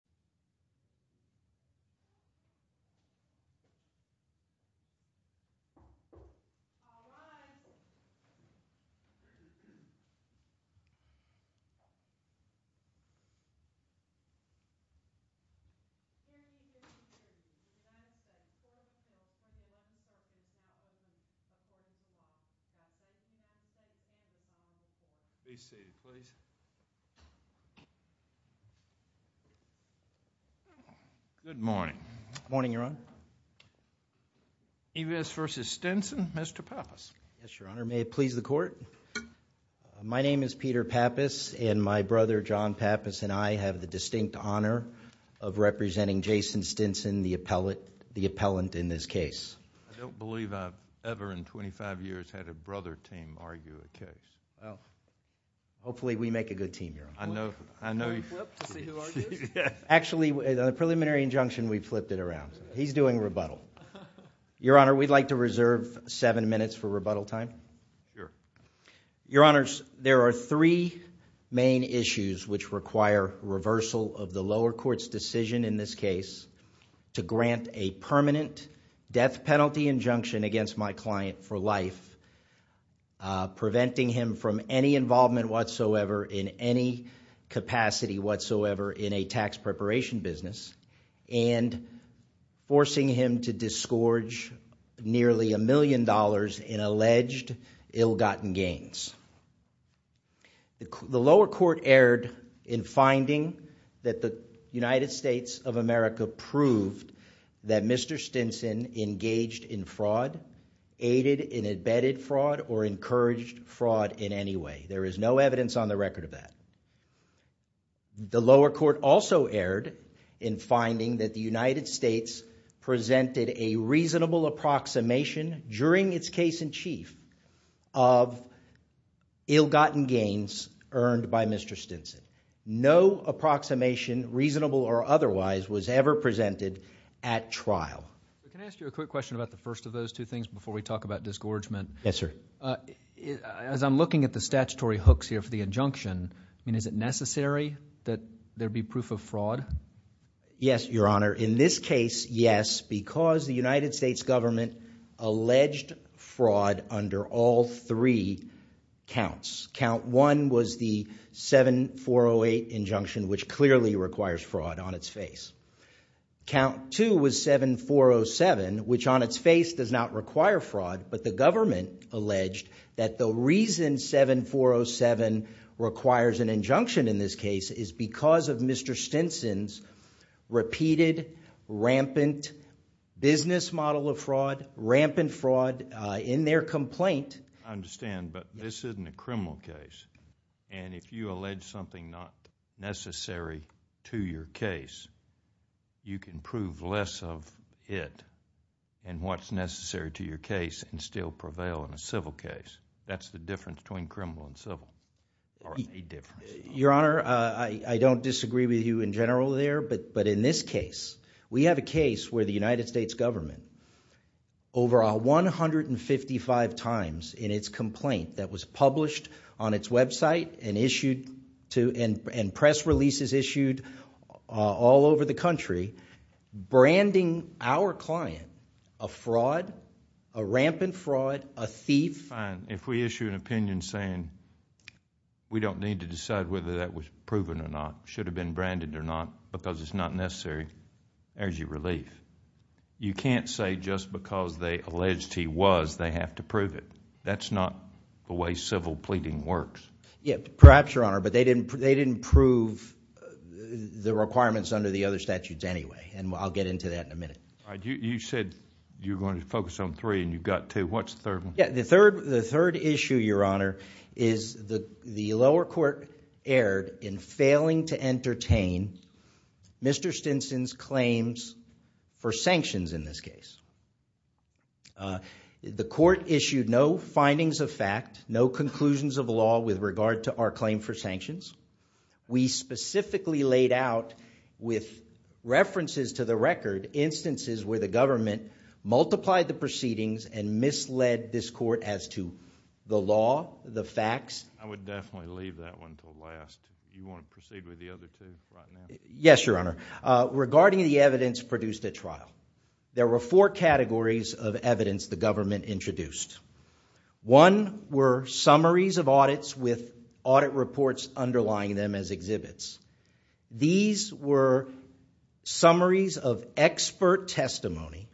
President Clinton Good morning. Good morning, Your Honor. Eves v. Stinson. Mr. Pappas. Yes, Your Honor. May it please the Court? My name is Peter Pappas and my brother, John Pappas, and I have the distinct honor of representing Jason Stinson, the appellant in this case. I don't believe I've ever in 25 years had a brother team argue a case. Well, hopefully we make a good team, Your Honor. Actually, the preliminary injunction, we flipped it around. He's doing rebuttal. Your Honor, we'd like to reserve seven minutes for rebuttal time. Your Honors, there are three main issues which require reversal of the lower court's decision in this case to grant a permanent death penalty injunction against my client for life, preventing him from any involvement whatsoever in any capacity whatsoever in a tax preparation business, and forcing him to disgorge nearly a million dollars in alleged ill-gotten gains. The lower court erred in finding that the United States of America proved that Mr. Stinson engaged in fraud, aided in embedded fraud, or encouraged fraud in any way. There is no evidence on the record of that. The lower court also erred in finding that the United States presented a reasonable approximation during its case in chief of ill-gotten gains earned by Mr. Stinson. No approximation, reasonable or otherwise, was ever presented at trial. Can I ask you a quick question about the first of those two things before we talk about disgorgement? Yes, sir. As I'm looking at the statutory hooks here for the injunction, is it necessary that there be proof of fraud? Yes, Your Honor. In this case, yes, because the United States government alleged fraud under all three counts. Count one was the 7408 injunction, which clearly requires fraud on its face. Count two was 7407, which on its face does not require fraud, but the government alleged that the reason 7407 requires an injunction in this case is because of Mr. Stinson's repeated, rampant business model of fraud, rampant fraud in their complaint. I understand, but this isn't a criminal case, and if you allege something not necessary to your case, you can prove less of it and what's necessary to your case and still prevail in a civil case. That's the difference between criminal and civil, or a difference. Your Honor, I don't disagree with you in general there, but in this case, we have a case where the United States government, over 155 times in its complaint that was published on its website and press releases issued all over the country, branding our client a fraud, a rampant fraud, a thief. If we issue an opinion saying we don't need to decide whether that was proven or not, should have been branded or not, because it's not necessary, there's your relief. You can't say just because they alleged he was, they have to prove it. That's not the way civil pleading works. Perhaps, Your Honor, but they didn't prove the requirements under the other statutes anyway, and I'll get into that in a minute. You said you're going to focus on three and you've got two. What's the third one? The third issue, Your Honor, is the lower court erred in failing to entertain Mr. Stinson's claims for sanctions in this case. The court issued no findings of fact, no conclusions of law with regard to our claim for sanctions. We specifically laid out, with references to the record, instances where the government multiplied the proceedings and misled this court as to the law, the facts. I would definitely leave that one to last. You want to proceed with the other two right now? Yes, Your Honor. Regarding the evidence produced at trial, there were four categories of evidence the government introduced. One were summaries of audits with audit reports underlying them as exhibits. These were summaries of expert testimony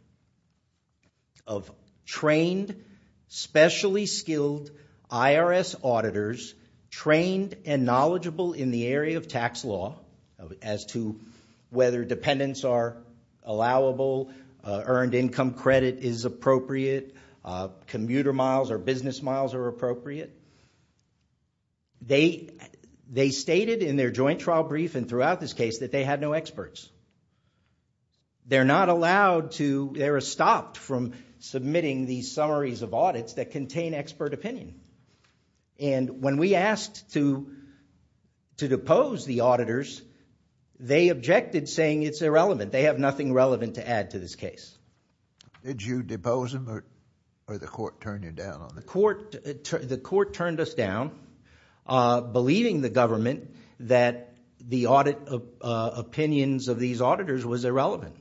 of trained, specially skilled IRS auditors, trained and knowledgeable in the area of tax law as to whether dependents are allowable, earned income credit is appropriate, commuter miles or business miles are appropriate. They stated in their joint trial brief and throughout this case that they had no experts. They're not allowed to, they were stopped from submitting these summaries of audits that contain expert opinion. And when we asked to depose the auditors, they objected saying it's irrelevant. They have nothing relevant to add to this case. Did you depose them or the court turned you down on it? The court turned us down, believing the government that the audit opinions of these auditors was irrelevant.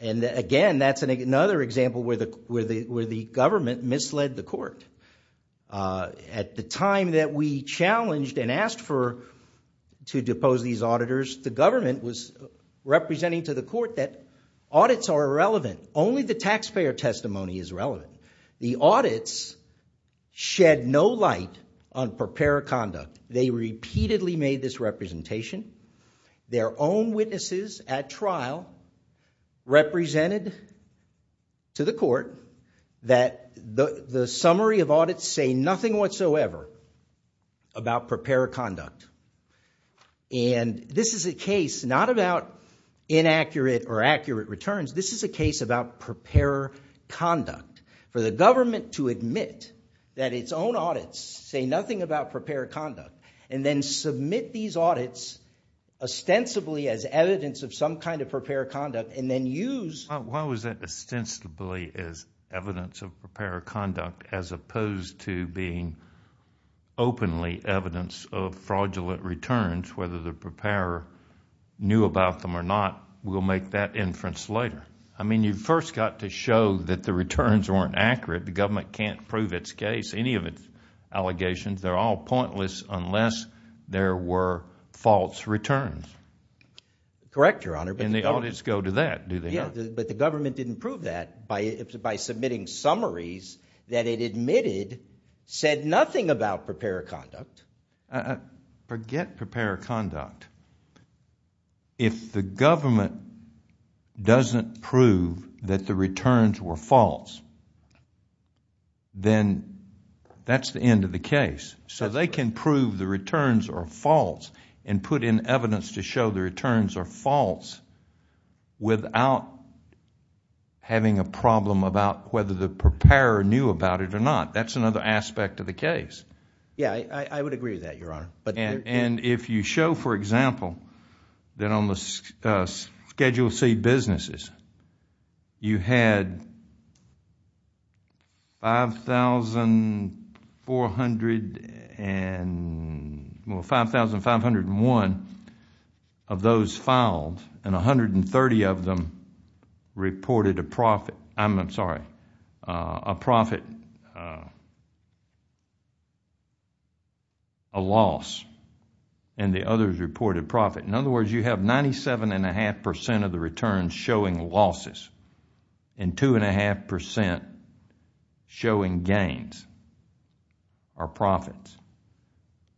And again, that's another example where the government misled the court. At the time that we challenged and asked for, to depose these auditors, the government was representing to the court that audits are irrelevant. Only the taxpayer testimony is relevant. The audits shed no light on preparer conduct. They repeatedly made this representation. Their own witnesses at trial represented to the court that the summary of audits say nothing whatsoever about preparer conduct. And this is a case not about inaccurate or accurate returns. This is a case about preparer conduct. For the government to admit that its own audits say nothing about preparer conduct and then submit these audits ostensibly as evidence of some kind of preparer conduct and then use— Why was that ostensibly as evidence of preparer conduct as opposed to being openly evidence of fraudulent returns, whether the preparer knew about them or not? We'll make that inference later. I mean you first got to show that the returns weren't accurate. The government can't prove its case, any of its allegations. They're all pointless unless there were false returns. Correct, Your Honor. And the audits go to that, do they not? Yeah, but the government didn't prove that by submitting summaries that it admitted said nothing about preparer conduct. Forget preparer conduct. If the government doesn't prove that the returns were false, then that's the end of the case. So they can prove the returns are false and put in evidence to show the returns are false without having a problem about whether the preparer knew about it or not. That's another aspect of the case. Yeah, I would agree with that, Your Honor. If you show, for example, that on the Schedule C businesses you had 5,501 of those filed and 130 of them reported a profit, I'm sorry, a profit, a loss, and the others reported profit. In other words, you have 97.5% of the returns showing losses and 2.5% showing gains or profits.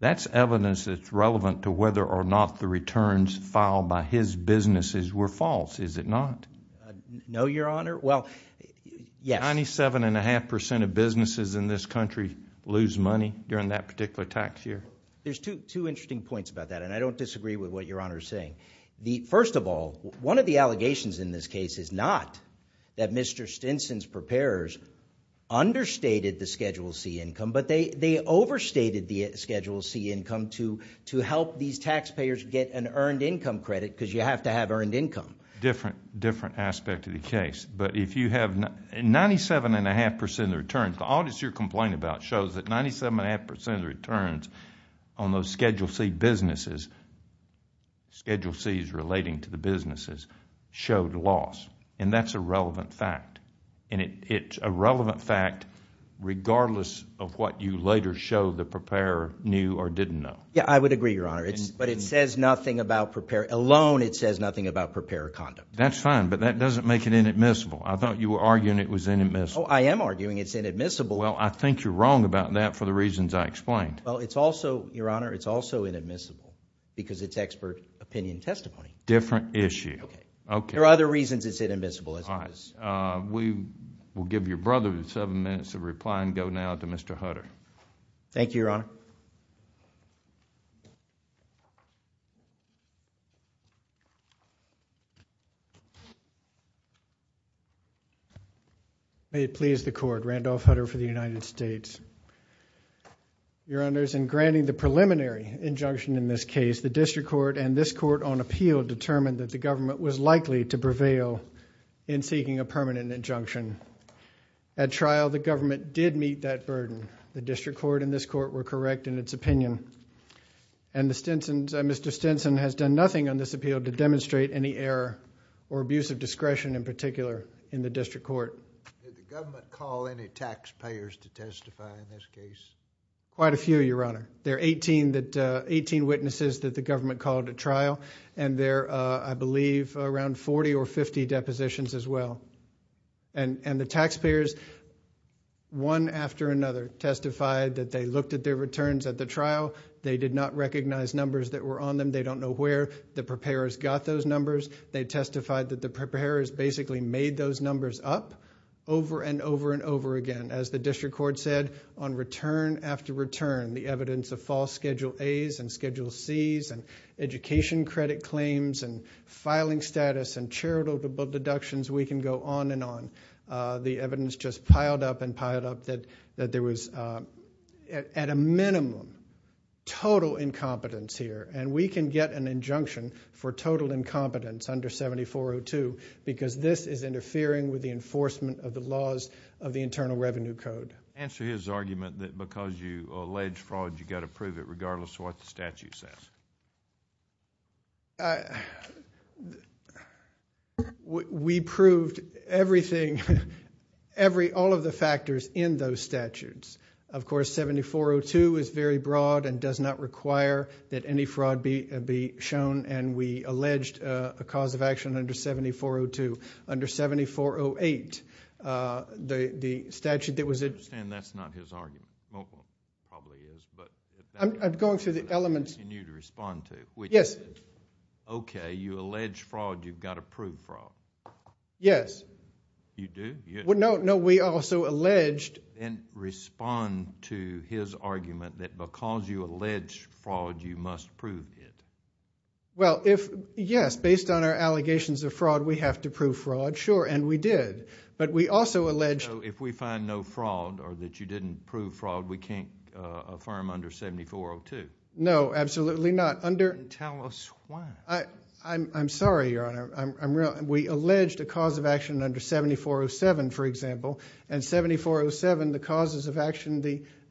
That's evidence that's relevant to whether or not the returns filed by his businesses were false, is it not? No, Your Honor. Well, yes. 97.5% of businesses in this country lose money during that particular tax year? There's two interesting points about that, and I don't disagree with what Your Honor is saying. First of all, one of the allegations in this case is not that Mr. Stinson's preparers understated the Schedule C income, but they overstated the Schedule C income to help these taxpayers get an earned income credit because you have to have earned income. Different aspect of the case, but if you have 97.5% of the returns, the audit you're complaining about shows that 97.5% of the returns on those Schedule C businesses, Schedule C is relating to the businesses, showed loss, and that's a relevant fact. It's a relevant fact regardless of what you later show the preparer knew or didn't know. Yeah, I would agree, Your Honor, but it says nothing about prepare. Alone, it says nothing about preparer conduct. That's fine, but that doesn't make it inadmissible. I thought you were arguing it was inadmissible. Oh, I am arguing it's inadmissible. Well, I think you're wrong about that for the reasons I explained. Well, it's also, Your Honor, it's also inadmissible because it's expert opinion testimony. Different issue. There are other reasons it's inadmissible. All right. We will give your brother seven minutes to reply and go now to Mr. Hutter. Thank you, Your Honor. May it please the Court, Randolph Hutter for the United States. Your Honors, in granting the preliminary injunction in this case, the district court and this court on appeal determined that the government was likely to prevail in seeking a permanent injunction. At trial, the government did meet that burden. The district court and this court were correct in its opinion, and Mr. Stinson has done nothing on this appeal to demonstrate any error or abuse of discretion in particular in the district court. Did the government call any taxpayers to testify in this case? Quite a few, Your Honor. There are 18 witnesses that the government called at trial, and there are, I believe, around 40 or 50 depositions as well. And the taxpayers, one after another, testified that they looked at their returns at the trial. They did not recognize numbers that were on them. They don't know where the preparers got those numbers. They testified that the preparers basically made those numbers up over and over and over again. And as the district court said, on return after return, the evidence of false Schedule As and Schedule Cs and education credit claims and filing status and charitable deductions, we can go on and on. The evidence just piled up and piled up that there was at a minimum total incompetence here, and we can get an injunction for total incompetence under 7402 because this is interfering with the enforcement of the laws of the Internal Revenue Code. Answer his argument that because you allege fraud, you've got to prove it regardless of what the statute says. We proved everything, all of the factors in those statutes. Of course, 7402 is very broad and does not require that any fraud be shown, and we alleged a cause of action under 7402. Under 7408, the statute that was in... I understand that's not his argument. Well, it probably is, but... I'm going through the elements. I'm asking you to respond to it. Yes. Okay, you allege fraud. You've got to prove fraud. Yes. You do? No, we also alleged... Respond to his argument that because you allege fraud, you must prove it. Well, yes, based on our allegations of fraud, we have to prove fraud. Sure, and we did, but we also alleged... So if we find no fraud or that you didn't prove fraud, we can't affirm under 7402? No, absolutely not. Tell us why. I'm sorry, Your Honor. We alleged a cause of action under 7407, for example, and 7407, the causes of action,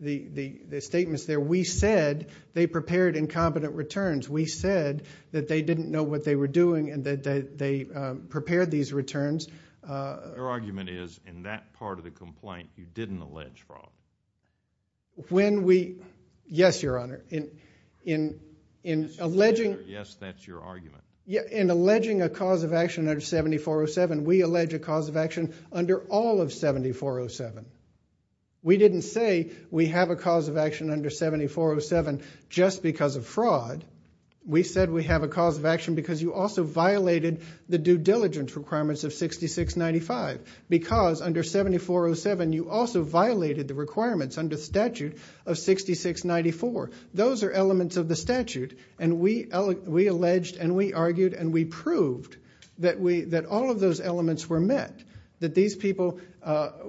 the statements there, we said they prepared incompetent returns. We said that they didn't know what they were doing and that they prepared these returns. Your argument is in that part of the complaint, you didn't allege fraud. When we... Yes, Your Honor. In alleging... Yes, that's your argument. In alleging a cause of action under 7407, we allege a cause of action under all of 7407. We didn't say we have a cause of action under 7407 just because of fraud. We said we have a cause of action because you also violated the due diligence requirements of 6695, because under 7407, you also violated the requirements under statute of 6694. Those are elements of the statute, and we alleged and we argued and we proved that all of those elements were met, that these people...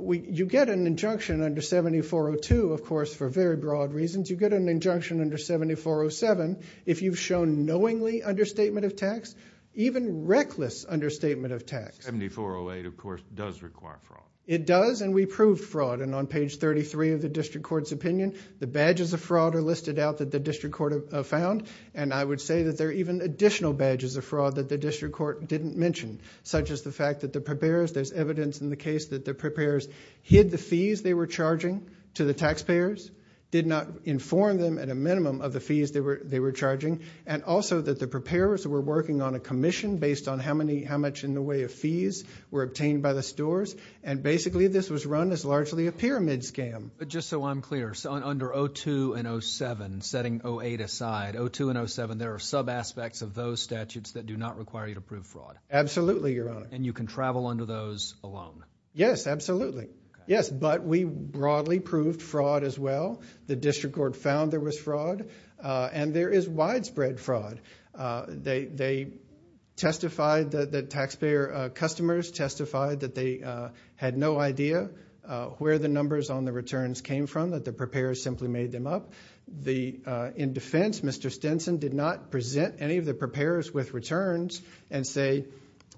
you get an injunction under 7402, of course, for very broad reasons. You get an injunction under 7407 if you've shown knowingly understatement of tax, even reckless understatement of tax. 7408, of course, does require fraud. It does, and we proved fraud. On page 33 of the district court's opinion, the badges of fraud are listed out that the district court found. I would say that there are even additional badges of fraud that the district court didn't mention, such as the fact that the preparers... there's evidence in the case that the preparers hid the fees they were charging to the taxpayers, did not inform them at a minimum of the fees they were charging, and also that the preparers were working on a commission based on how much in the way of fees were obtained by the stores. And basically, this was run as largely a pyramid scam. But just so I'm clear, under 02 and 07, setting 08 aside, 02 and 07, there are sub-aspects of those statutes that do not require you to prove fraud? Absolutely, Your Honor. And you can travel under those alone? Yes, absolutely. Yes, but we broadly proved fraud as well. The district court found there was fraud, and there is widespread fraud. They testified that the taxpayer customers testified that they had no idea where the numbers on the returns came from, that the preparers simply made them up. In defense, Mr. Stinson did not present any of the preparers with returns and say,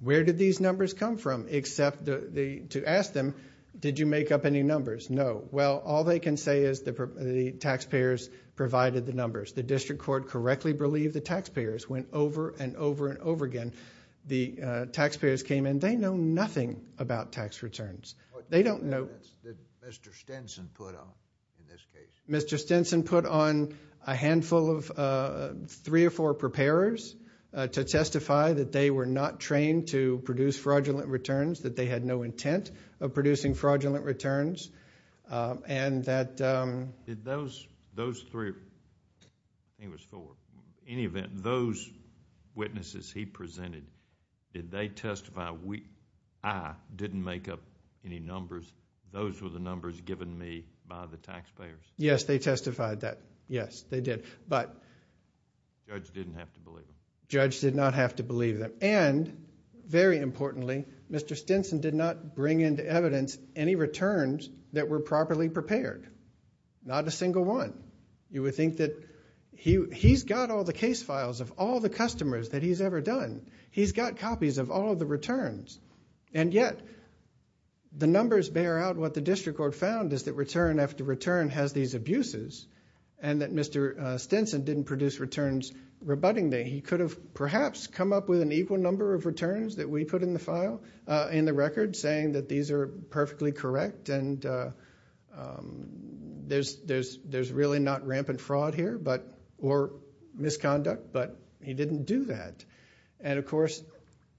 where did these numbers come from, except to ask them, did you make up any numbers? No. Well, all they can say is the taxpayers provided the numbers. The district court correctly believed the taxpayers went over and over and over again. The taxpayers came in. They know nothing about tax returns. They don't know. What evidence did Mr. Stinson put on in this case? Mr. Stinson put on a handful of three or four preparers to testify that they were not trained to produce fraudulent returns, that they had no intent of producing fraudulent returns, and that— Did those three—I think it was four. In any event, those witnesses he presented, did they testify, I didn't make up any numbers, those were the numbers given me by the taxpayers? Yes, they testified that. Yes, they did, but— The judge didn't have to believe them. The judge did not have to believe them. And, very importantly, Mr. Stinson did not bring into evidence any returns that were properly prepared, not a single one. You would think that he's got all the case files of all the customers that he's ever done. He's got copies of all of the returns. And yet, the numbers bear out what the district court found is that return after return has these abuses and that Mr. Stinson didn't produce returns rebutting them. He could have perhaps come up with an equal number of returns that we put in the file, in the record, saying that these are perfectly correct and there's really not rampant fraud here or misconduct, but he didn't do that. And, of course,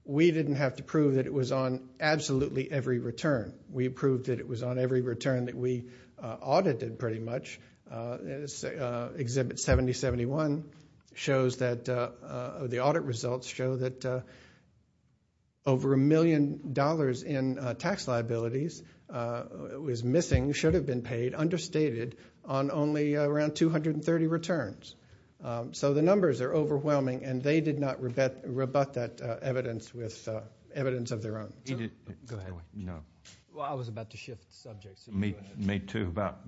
we didn't have to prove that it was on absolutely every return. We proved that it was on every return that we audited, pretty much. Exhibit 7071 shows that the audit results show that over a million dollars in tax liabilities was missing, should have been paid, understated on only around 230 returns. So the numbers are overwhelming, and they did not rebut that evidence with evidence of their own. Go ahead. Well, I was about to shift subjects. Me, too, about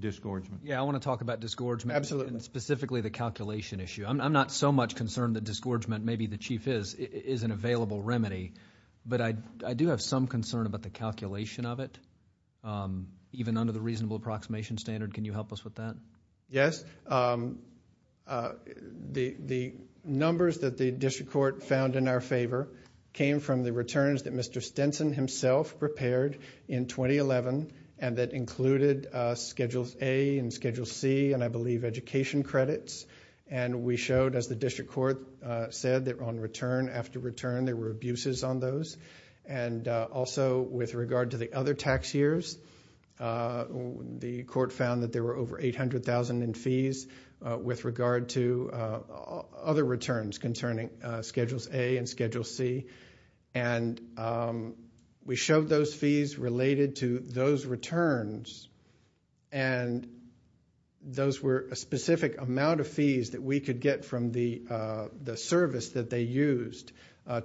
disgorgement. Yeah, I want to talk about disgorgement. Absolutely. And specifically the calculation issue. I'm not so much concerned that disgorgement, maybe the Chief is, is an available remedy, but I do have some concern about the calculation of it, even under the reasonable approximation standard. Can you help us with that? Yes. The numbers that the district court found in our favor came from the returns that Mr. Stinson himself prepared in 2011 and that included Schedule A and Schedule C and, I believe, education credits. And we showed, as the district court said, that on return after return there were abuses on those. And also with regard to the other tax years, the court found that there were over 800,000 in fees with regard to other returns concerning Schedules A and Schedule C. And we showed those fees related to those returns, and those were a specific amount of fees that we could get from the service that they used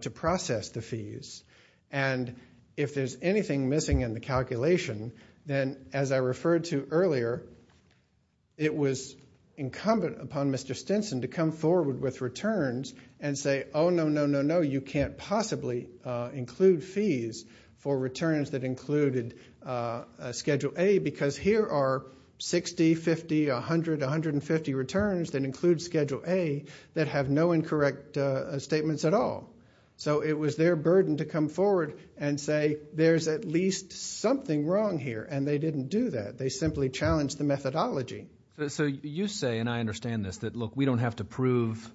to process the fees. And if there's anything missing in the calculation, then, as I referred to earlier, it was incumbent upon Mr. Stinson to come forward with returns and say, oh, no, no, no, no, you can't possibly include fees for returns that included Schedule A because here are 60, 50, 100, 150 returns that include Schedule A that have no incorrect statements at all. So it was their burden to come forward and say there's at least something wrong here, and they didn't do that. They simply challenged the methodology. So you say, and I understand this, that, look, we don't have to prove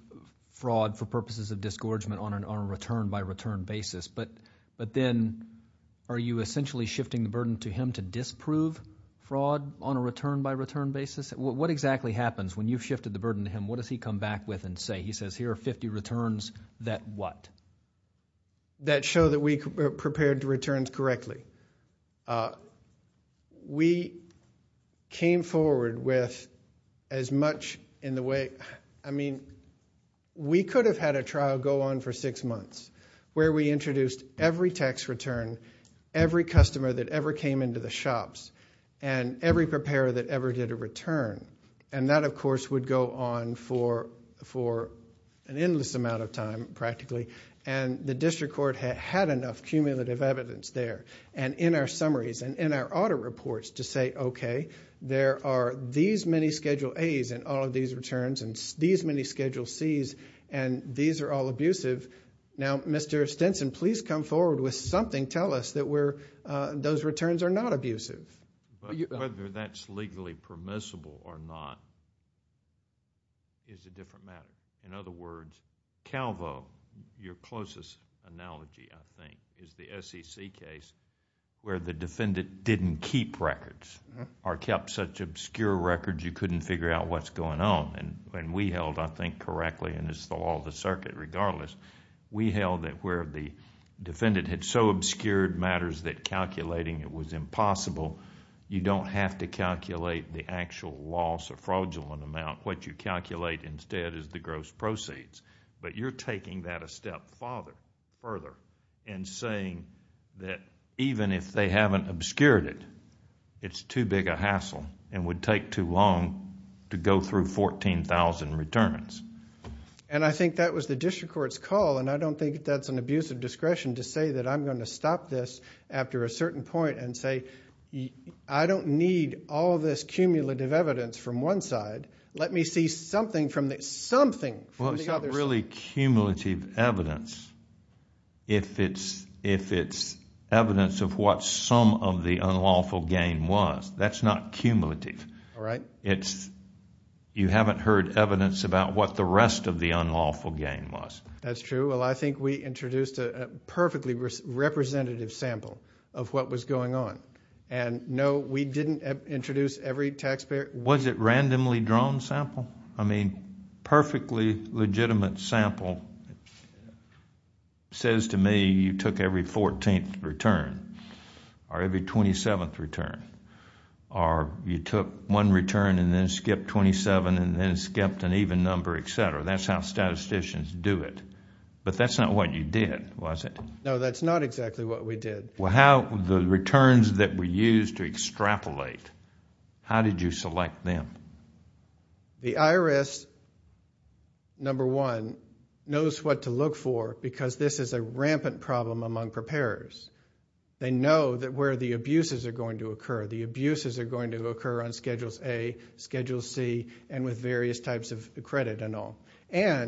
fraud for purposes of disgorgement on a return-by-return basis, but then are you essentially shifting the burden to him to disprove fraud on a return-by-return basis? What exactly happens when you've shifted the burden to him? What does he come back with and say? He says here are 50 returns that what? That show that we prepared the returns correctly. We came forward with as much in the way, I mean, we could have had a trial go on for six months where we introduced every tax return, every customer that ever came into the shops, and every preparer that ever did a return, and that, of course, would go on for an endless amount of time practically, and the district court had enough cumulative evidence there. And in our summaries and in our audit reports to say, okay, there are these many Schedule A's in all of these returns and these many Schedule C's, and these are all abusive. Now, Mr. Stinson, please come forward with something. Tell us that those returns are not abusive. Whether that's legally permissible or not is a different matter. In other words, Calvo, your closest analogy, I think, is the SEC case where the defendant didn't keep records or kept such obscure records you couldn't figure out what's going on. And we held, I think correctly, and it's the law of the circuit regardless, we held that where the defendant had so obscured matters that calculating it was impossible, you don't have to calculate the actual loss or fraudulent amount. What you calculate instead is the gross proceeds. But you're taking that a step further in saying that even if they haven't obscured it, it's too big a hassle and would take too long to go through 14,000 returns. And I think that was the district court's call, and I don't think that's an abusive discretion to say that I'm going to stop this after a certain point and say I don't need all this cumulative evidence from one side. Let me see something from the other side. Well, it's not really cumulative evidence if it's evidence of what some of the unlawful gain was. That's not cumulative. All right. You haven't heard evidence about what the rest of the unlawful gain was. That's true. Well, I think we introduced a perfectly representative sample of what was going on. And no, we didn't introduce every taxpayer. Was it randomly drawn sample? I mean, perfectly legitimate sample says to me you took every 14th return or every 27th return or you took one return and then skipped 27 and then skipped an even number, et cetera. That's how statisticians do it. But that's not what you did, was it? No, that's not exactly what we did. The returns that were used to extrapolate, how did you select them? The IRS, number one, knows what to look for because this is a rampant problem among preparers. They know where the abuses are going to occur. The abuses are going to occur on Schedules A, Schedule C, and with various types of credit and all. All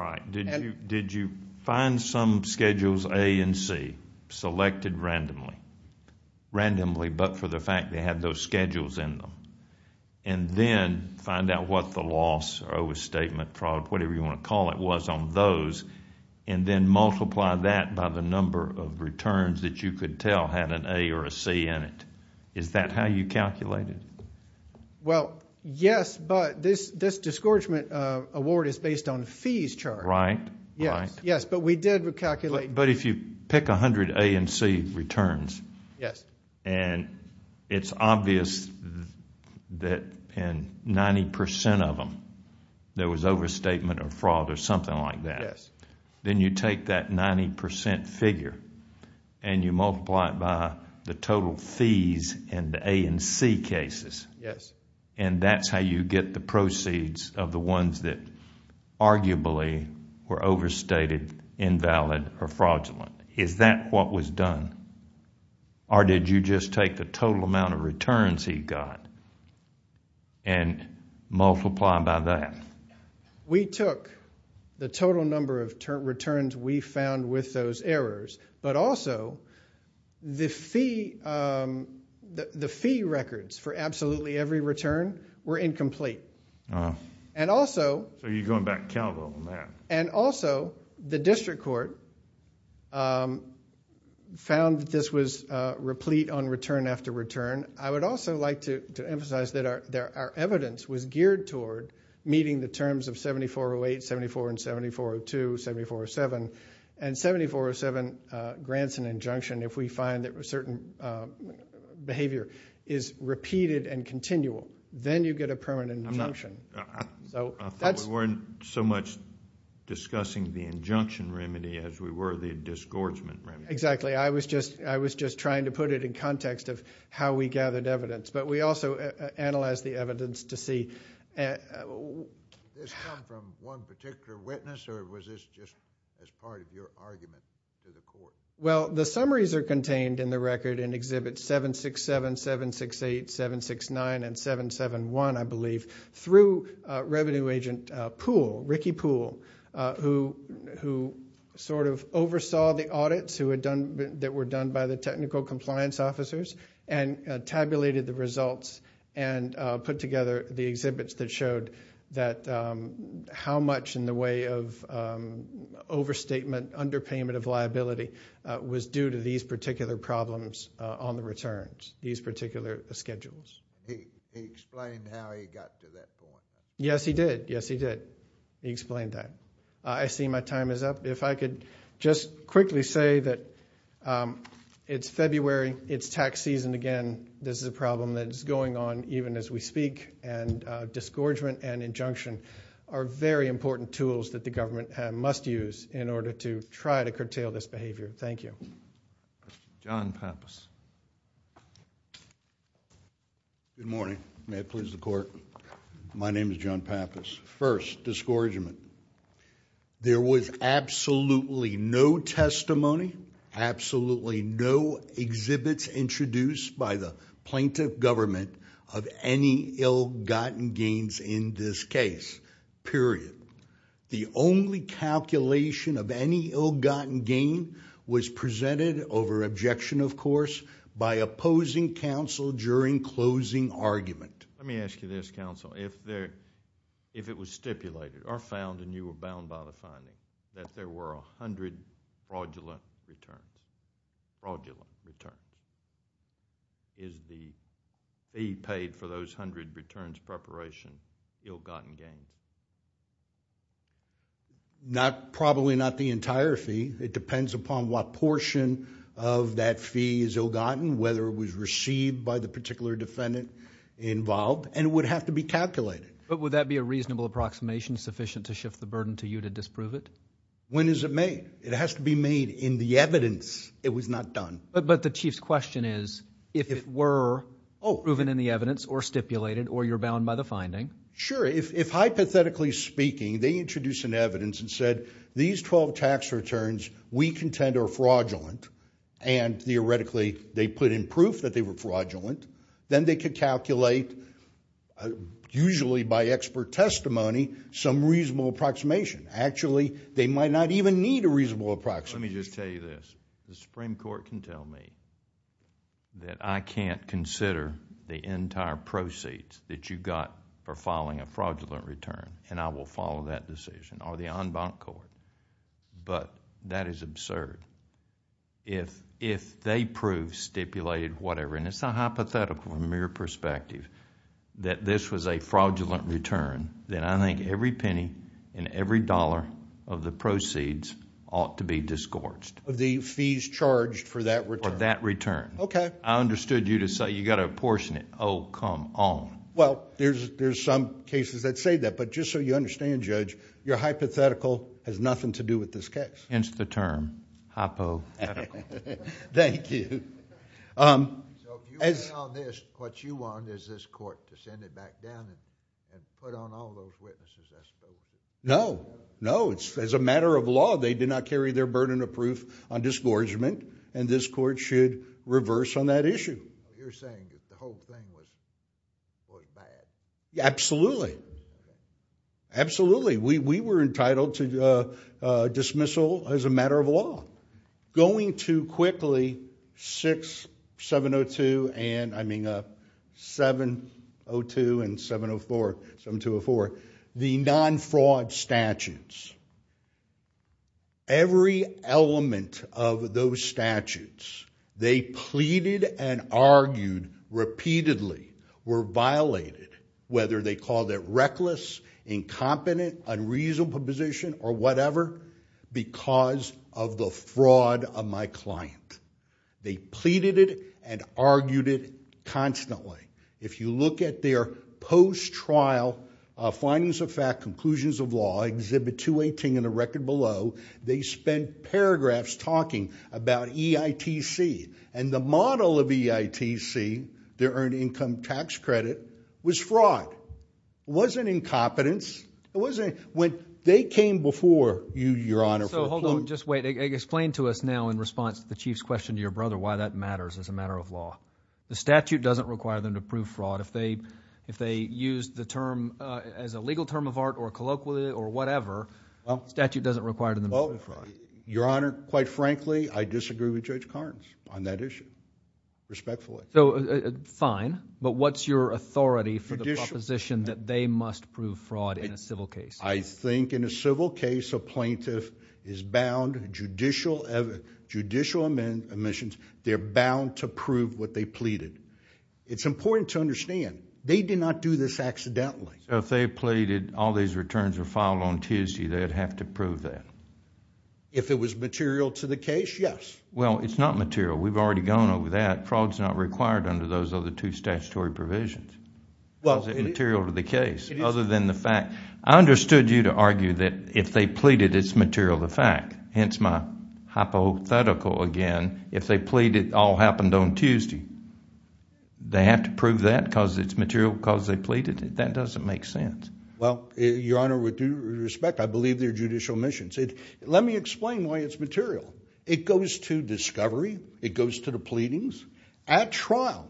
right. Did you find some Schedules A and C selected randomly, randomly but for the fact they had those schedules in them, and then find out what the loss or overstatement, fraud, whatever you want to call it, was on those and then multiply that by the number of returns that you could tell had an A or a C in it? Is that how you calculated it? Well, yes, but this discouragement award is based on the fees chart. Right, right. Yes, but we did calculate. But if you pick 100 A and C returns and it's obvious that in 90% of them there was overstatement or fraud or something like that, then you take that 90% figure and you multiply it by the total fees in the A and C cases. Yes. And that's how you get the proceeds of the ones that arguably were overstated, invalid, or fraudulent. Is that what was done? Or did you just take the total amount of returns he got and multiply by that? We took the total number of returns we found with those errors, but also the fee records for absolutely every return were incomplete. So you're going back Calvo on that. And also the district court found that this was replete on return after return. I would also like to emphasize that our evidence was geared toward meeting the terms of 7408, 7402, 7407, and 7407 grants an injunction if we find that a certain behavior is repeated and continual. Then you get a permanent injunction. I thought we weren't so much discussing the injunction remedy as we were the disgorgement remedy. Exactly. I was just trying to put it in context of how we gathered evidence. But we also analyzed the evidence to see. Did this come from one particular witness, or was this just as part of your argument to the court? Well, the summaries are contained in the record in Exhibits 767, 768, 769, and 771, I believe, through Revenue Agent Poole, Ricky Poole, who sort of oversaw the audits that were done by the technical compliance officers and tabulated the results and put together the exhibits that showed that how much in the way of overstatement, underpayment of liability, was due to these particular problems on the returns, these particular schedules. He explained how he got to that point. Yes, he did. Yes, he did. He explained that. I see my time is up. If I could just quickly say that it's February, it's tax season again, this is a problem that is going on even as we speak, and disgorgement and injunction are very important tools that the government must use in order to try to curtail this behavior. Thank you. John Pappas. Good morning. May it please the Court. My name is John Pappas. First, disgorgement. There was absolutely no testimony, absolutely no exhibits introduced by the plaintiff government of any ill-gotten gains in this case, period. The only calculation of any ill-gotten gain was presented over objection, of course, by opposing counsel during closing argument. Let me ask you this, counsel. If it was stipulated or found, and you were bound by the finding, that there were 100 fraudulent returns, fraudulent returns, is the fee paid for those 100 returns preparation ill-gotten gains? Probably not the entire fee. It depends upon what portion of that fee is ill-gotten, whether it was received by the particular defendant involved, and it would have to be calculated. But would that be a reasonable approximation, sufficient to shift the burden to you to disprove it? When is it made? It has to be made in the evidence it was not done. But the Chief's question is if it were proven in the evidence or stipulated, or you're bound by the finding. Sure. If, hypothetically speaking, they introduce an evidence and said, these 12 tax returns we contend are fraudulent, and theoretically they put in proof that they were fraudulent, then they could calculate, usually by expert testimony, some reasonable approximation. Actually, they might not even need a reasonable approximation. Let me just tell you this. The Supreme Court can tell me that I can't consider the entire proceeds that you got for filing a fraudulent return, and I will follow that decision, or the en banc court. But that is absurd. If they prove, stipulated, whatever, and it's not hypothetical from a mere perspective, that this was a fraudulent return, then I think every penny and every dollar of the proceeds ought to be disgorged. The fees charged for that return. For that return. Okay. I understood you to say you got to apportion it. Oh, come on. Well, there's some cases that say that, but just so you understand, Judge, your hypothetical has nothing to do with this case. Hence the term, hypothetical. Thank you. So if you weigh on this, what you want is this court to send it back down and put on all those witnesses, I suppose. No. No, as a matter of law, they did not carry their burden of proof on disgorgement, and this court should reverse on that issue. You're saying that the whole thing was bad. Absolutely. Absolutely. We were entitled to dismissal as a matter of law. Going too quickly, 6702 and, I mean, 702 and 704, the non-fraud statutes. Every element of those statutes, they pleaded and argued repeatedly, were violated, whether they called it reckless, incompetent, unreasonable position, or whatever, because of the fraud of my client. They pleaded it and argued it constantly. If you look at their post-trial findings of fact, conclusions of law, Exhibit 218 and the record below, they spent paragraphs talking about EITC, and the model of EITC, their earned income tax credit, was fraud. It wasn't incompetence. It wasn't. When they came before you, Your Honor, for a plea. So, hold on. Just wait. Explain to us now, in response to the Chief's question to your brother, why that matters as a matter of law. The statute doesn't require them to prove fraud. If they used the term as a legal term of art or colloquially or whatever, the statute doesn't require them to prove fraud. Your Honor, quite frankly, I disagree with Judge Carnes. On that issue. Respectfully. So, fine. But what's your authority for the proposition that they must prove fraud in a civil case? I think in a civil case, a plaintiff is bound, judicial omissions, they're bound to prove what they pleaded. It's important to understand, they did not do this accidentally. So, if they pleaded all these returns were filed on Tuesday, they'd have to prove that? If it was material to the case, yes. Well, it's not material. We've already gone over that. Fraud's not required under those other two statutory provisions. How is it material to the case other than the fact? I understood you to argue that if they pleaded, it's material to the fact. Hence, my hypothetical again. If they pleaded it all happened on Tuesday, they have to prove that because it's material because they pleaded it? That doesn't make sense. Well, Your Honor, with due respect, I believe they're judicial omissions. Let me explain why it's material. It goes to discovery. It goes to the pleadings. At trial,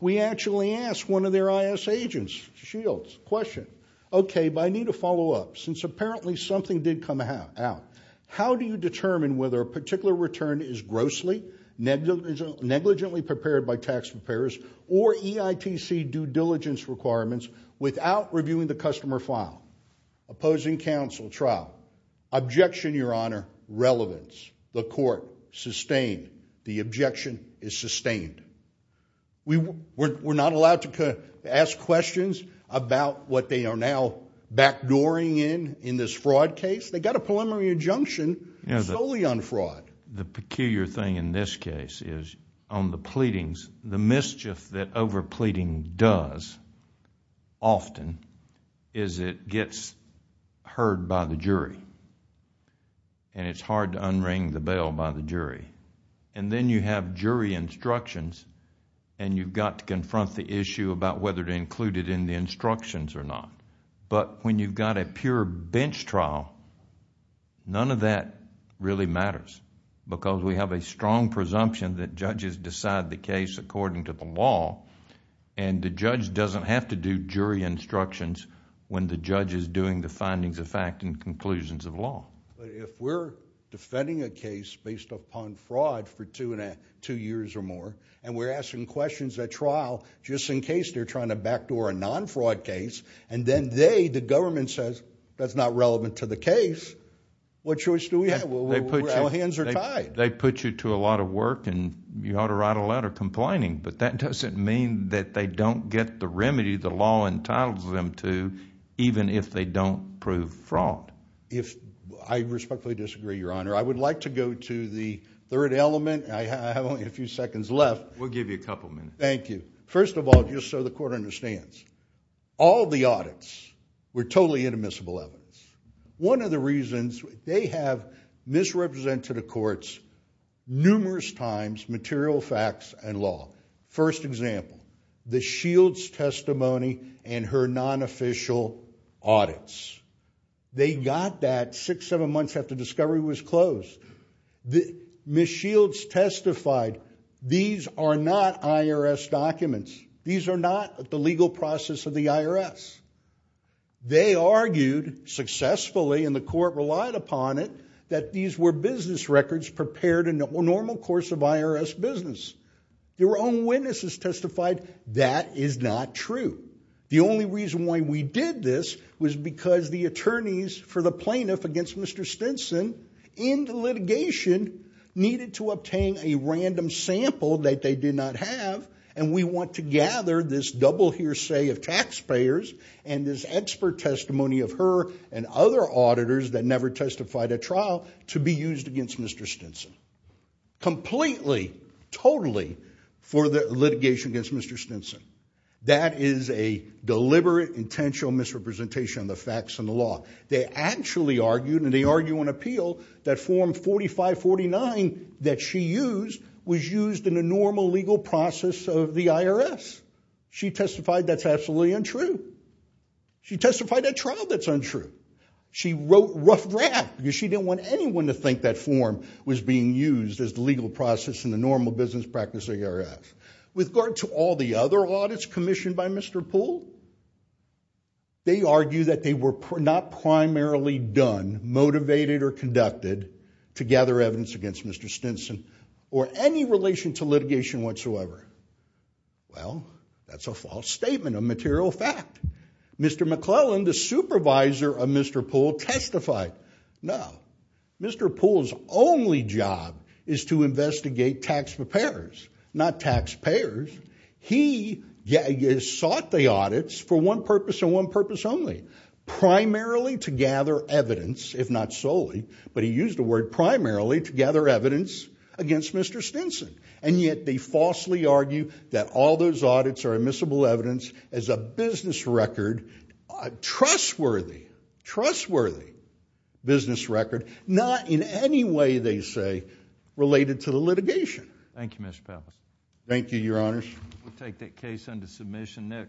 we actually ask one of their I.S. agents, Shields, question. Okay, but I need to follow up. Since apparently something did come out, how do you determine whether a particular return is grossly, negligently prepared by tax preparers, or EITC due diligence requirements without reviewing the customer file? Opposing counsel, trial. Objection, Your Honor. Relevance. The court sustained. The objection is sustained. We're not allowed to ask questions about what they are now backdooring in, in this fraud case. They got a preliminary injunction solely on fraud. The peculiar thing in this case is on the pleadings, the mischief that over pleading does often is it gets heard by the jury. It's hard to unring the bell by the jury. Then you have jury instructions and you've got to confront the issue about whether to include it in the instructions or not. When you've got a pure bench trial, none of that really matters because we have a strong presumption that judges decide the case according to the law. The judge doesn't have to do jury instructions when the judge is doing the findings of fact and conclusions of law. If we're defending a case based upon fraud for two years or more, and we're asking questions at trial just in case they're trying to backdoor a non-fraud case, and then they, the government, says that's not relevant to the case, what choice do we have? Our hands are tied. They put you to a lot of work and you ought to write a letter complaining, but that doesn't mean that they don't get the remedy the law entitles them to even if they don't prove fraud. I respectfully disagree, Your Honor. I would like to go to the third element. I have only a few seconds left. We'll give you a couple minutes. Thank you. First of all, just so the court understands, all the audits were totally inadmissible evidence. One of the reasons they have misrepresented to the courts numerous times material facts and law. First example, the Shields' testimony and her non-official audits. They got that six, seven months after discovery was closed. Ms. Shields testified these are not IRS documents. These are not the legal process of the IRS. They argued successfully, and the court relied upon it, that these were business records prepared in the normal course of IRS business. Their own witnesses testified that is not true. The only reason why we did this was because the attorneys for the plaintiff against Mr. Stinson in the litigation needed to obtain a random sample that they did not have, and we want to gather this double hearsay of taxpayers and this expert testimony of her and other auditors that never testified at trial to be used against Mr. Stinson. Completely, totally for the litigation against Mr. Stinson. That is a deliberate, intentional misrepresentation of the facts and the law. They actually argued, and they argue on appeal, that Form 4549 that she used was used in a normal legal process of the IRS. She testified that's absolutely untrue. She testified at trial that's untrue. She wrote rough draft because she didn't want anyone to think that form was being used as the legal process in the normal business practice of the IRS. With regard to all the other audits commissioned by Mr. Poole, they argue that they were not primarily done, motivated, or conducted to gather evidence against Mr. Stinson or any relation to litigation whatsoever. Well, that's a false statement, a material fact. Mr. McClellan, the supervisor of Mr. Poole, testified. No, Mr. Poole's only job is to investigate taxpayers, not taxpayers. He sought the audits for one purpose and one purpose only, primarily to gather evidence, if not solely, but he used the word primarily to gather evidence against Mr. Stinson. And yet they falsely argue that all those audits are admissible evidence as a business record, trustworthy, trustworthy business record, not in any way, they say, related to the litigation. Thank you, Mr. Powell. Thank you, Your Honors. We'll take that case under submission.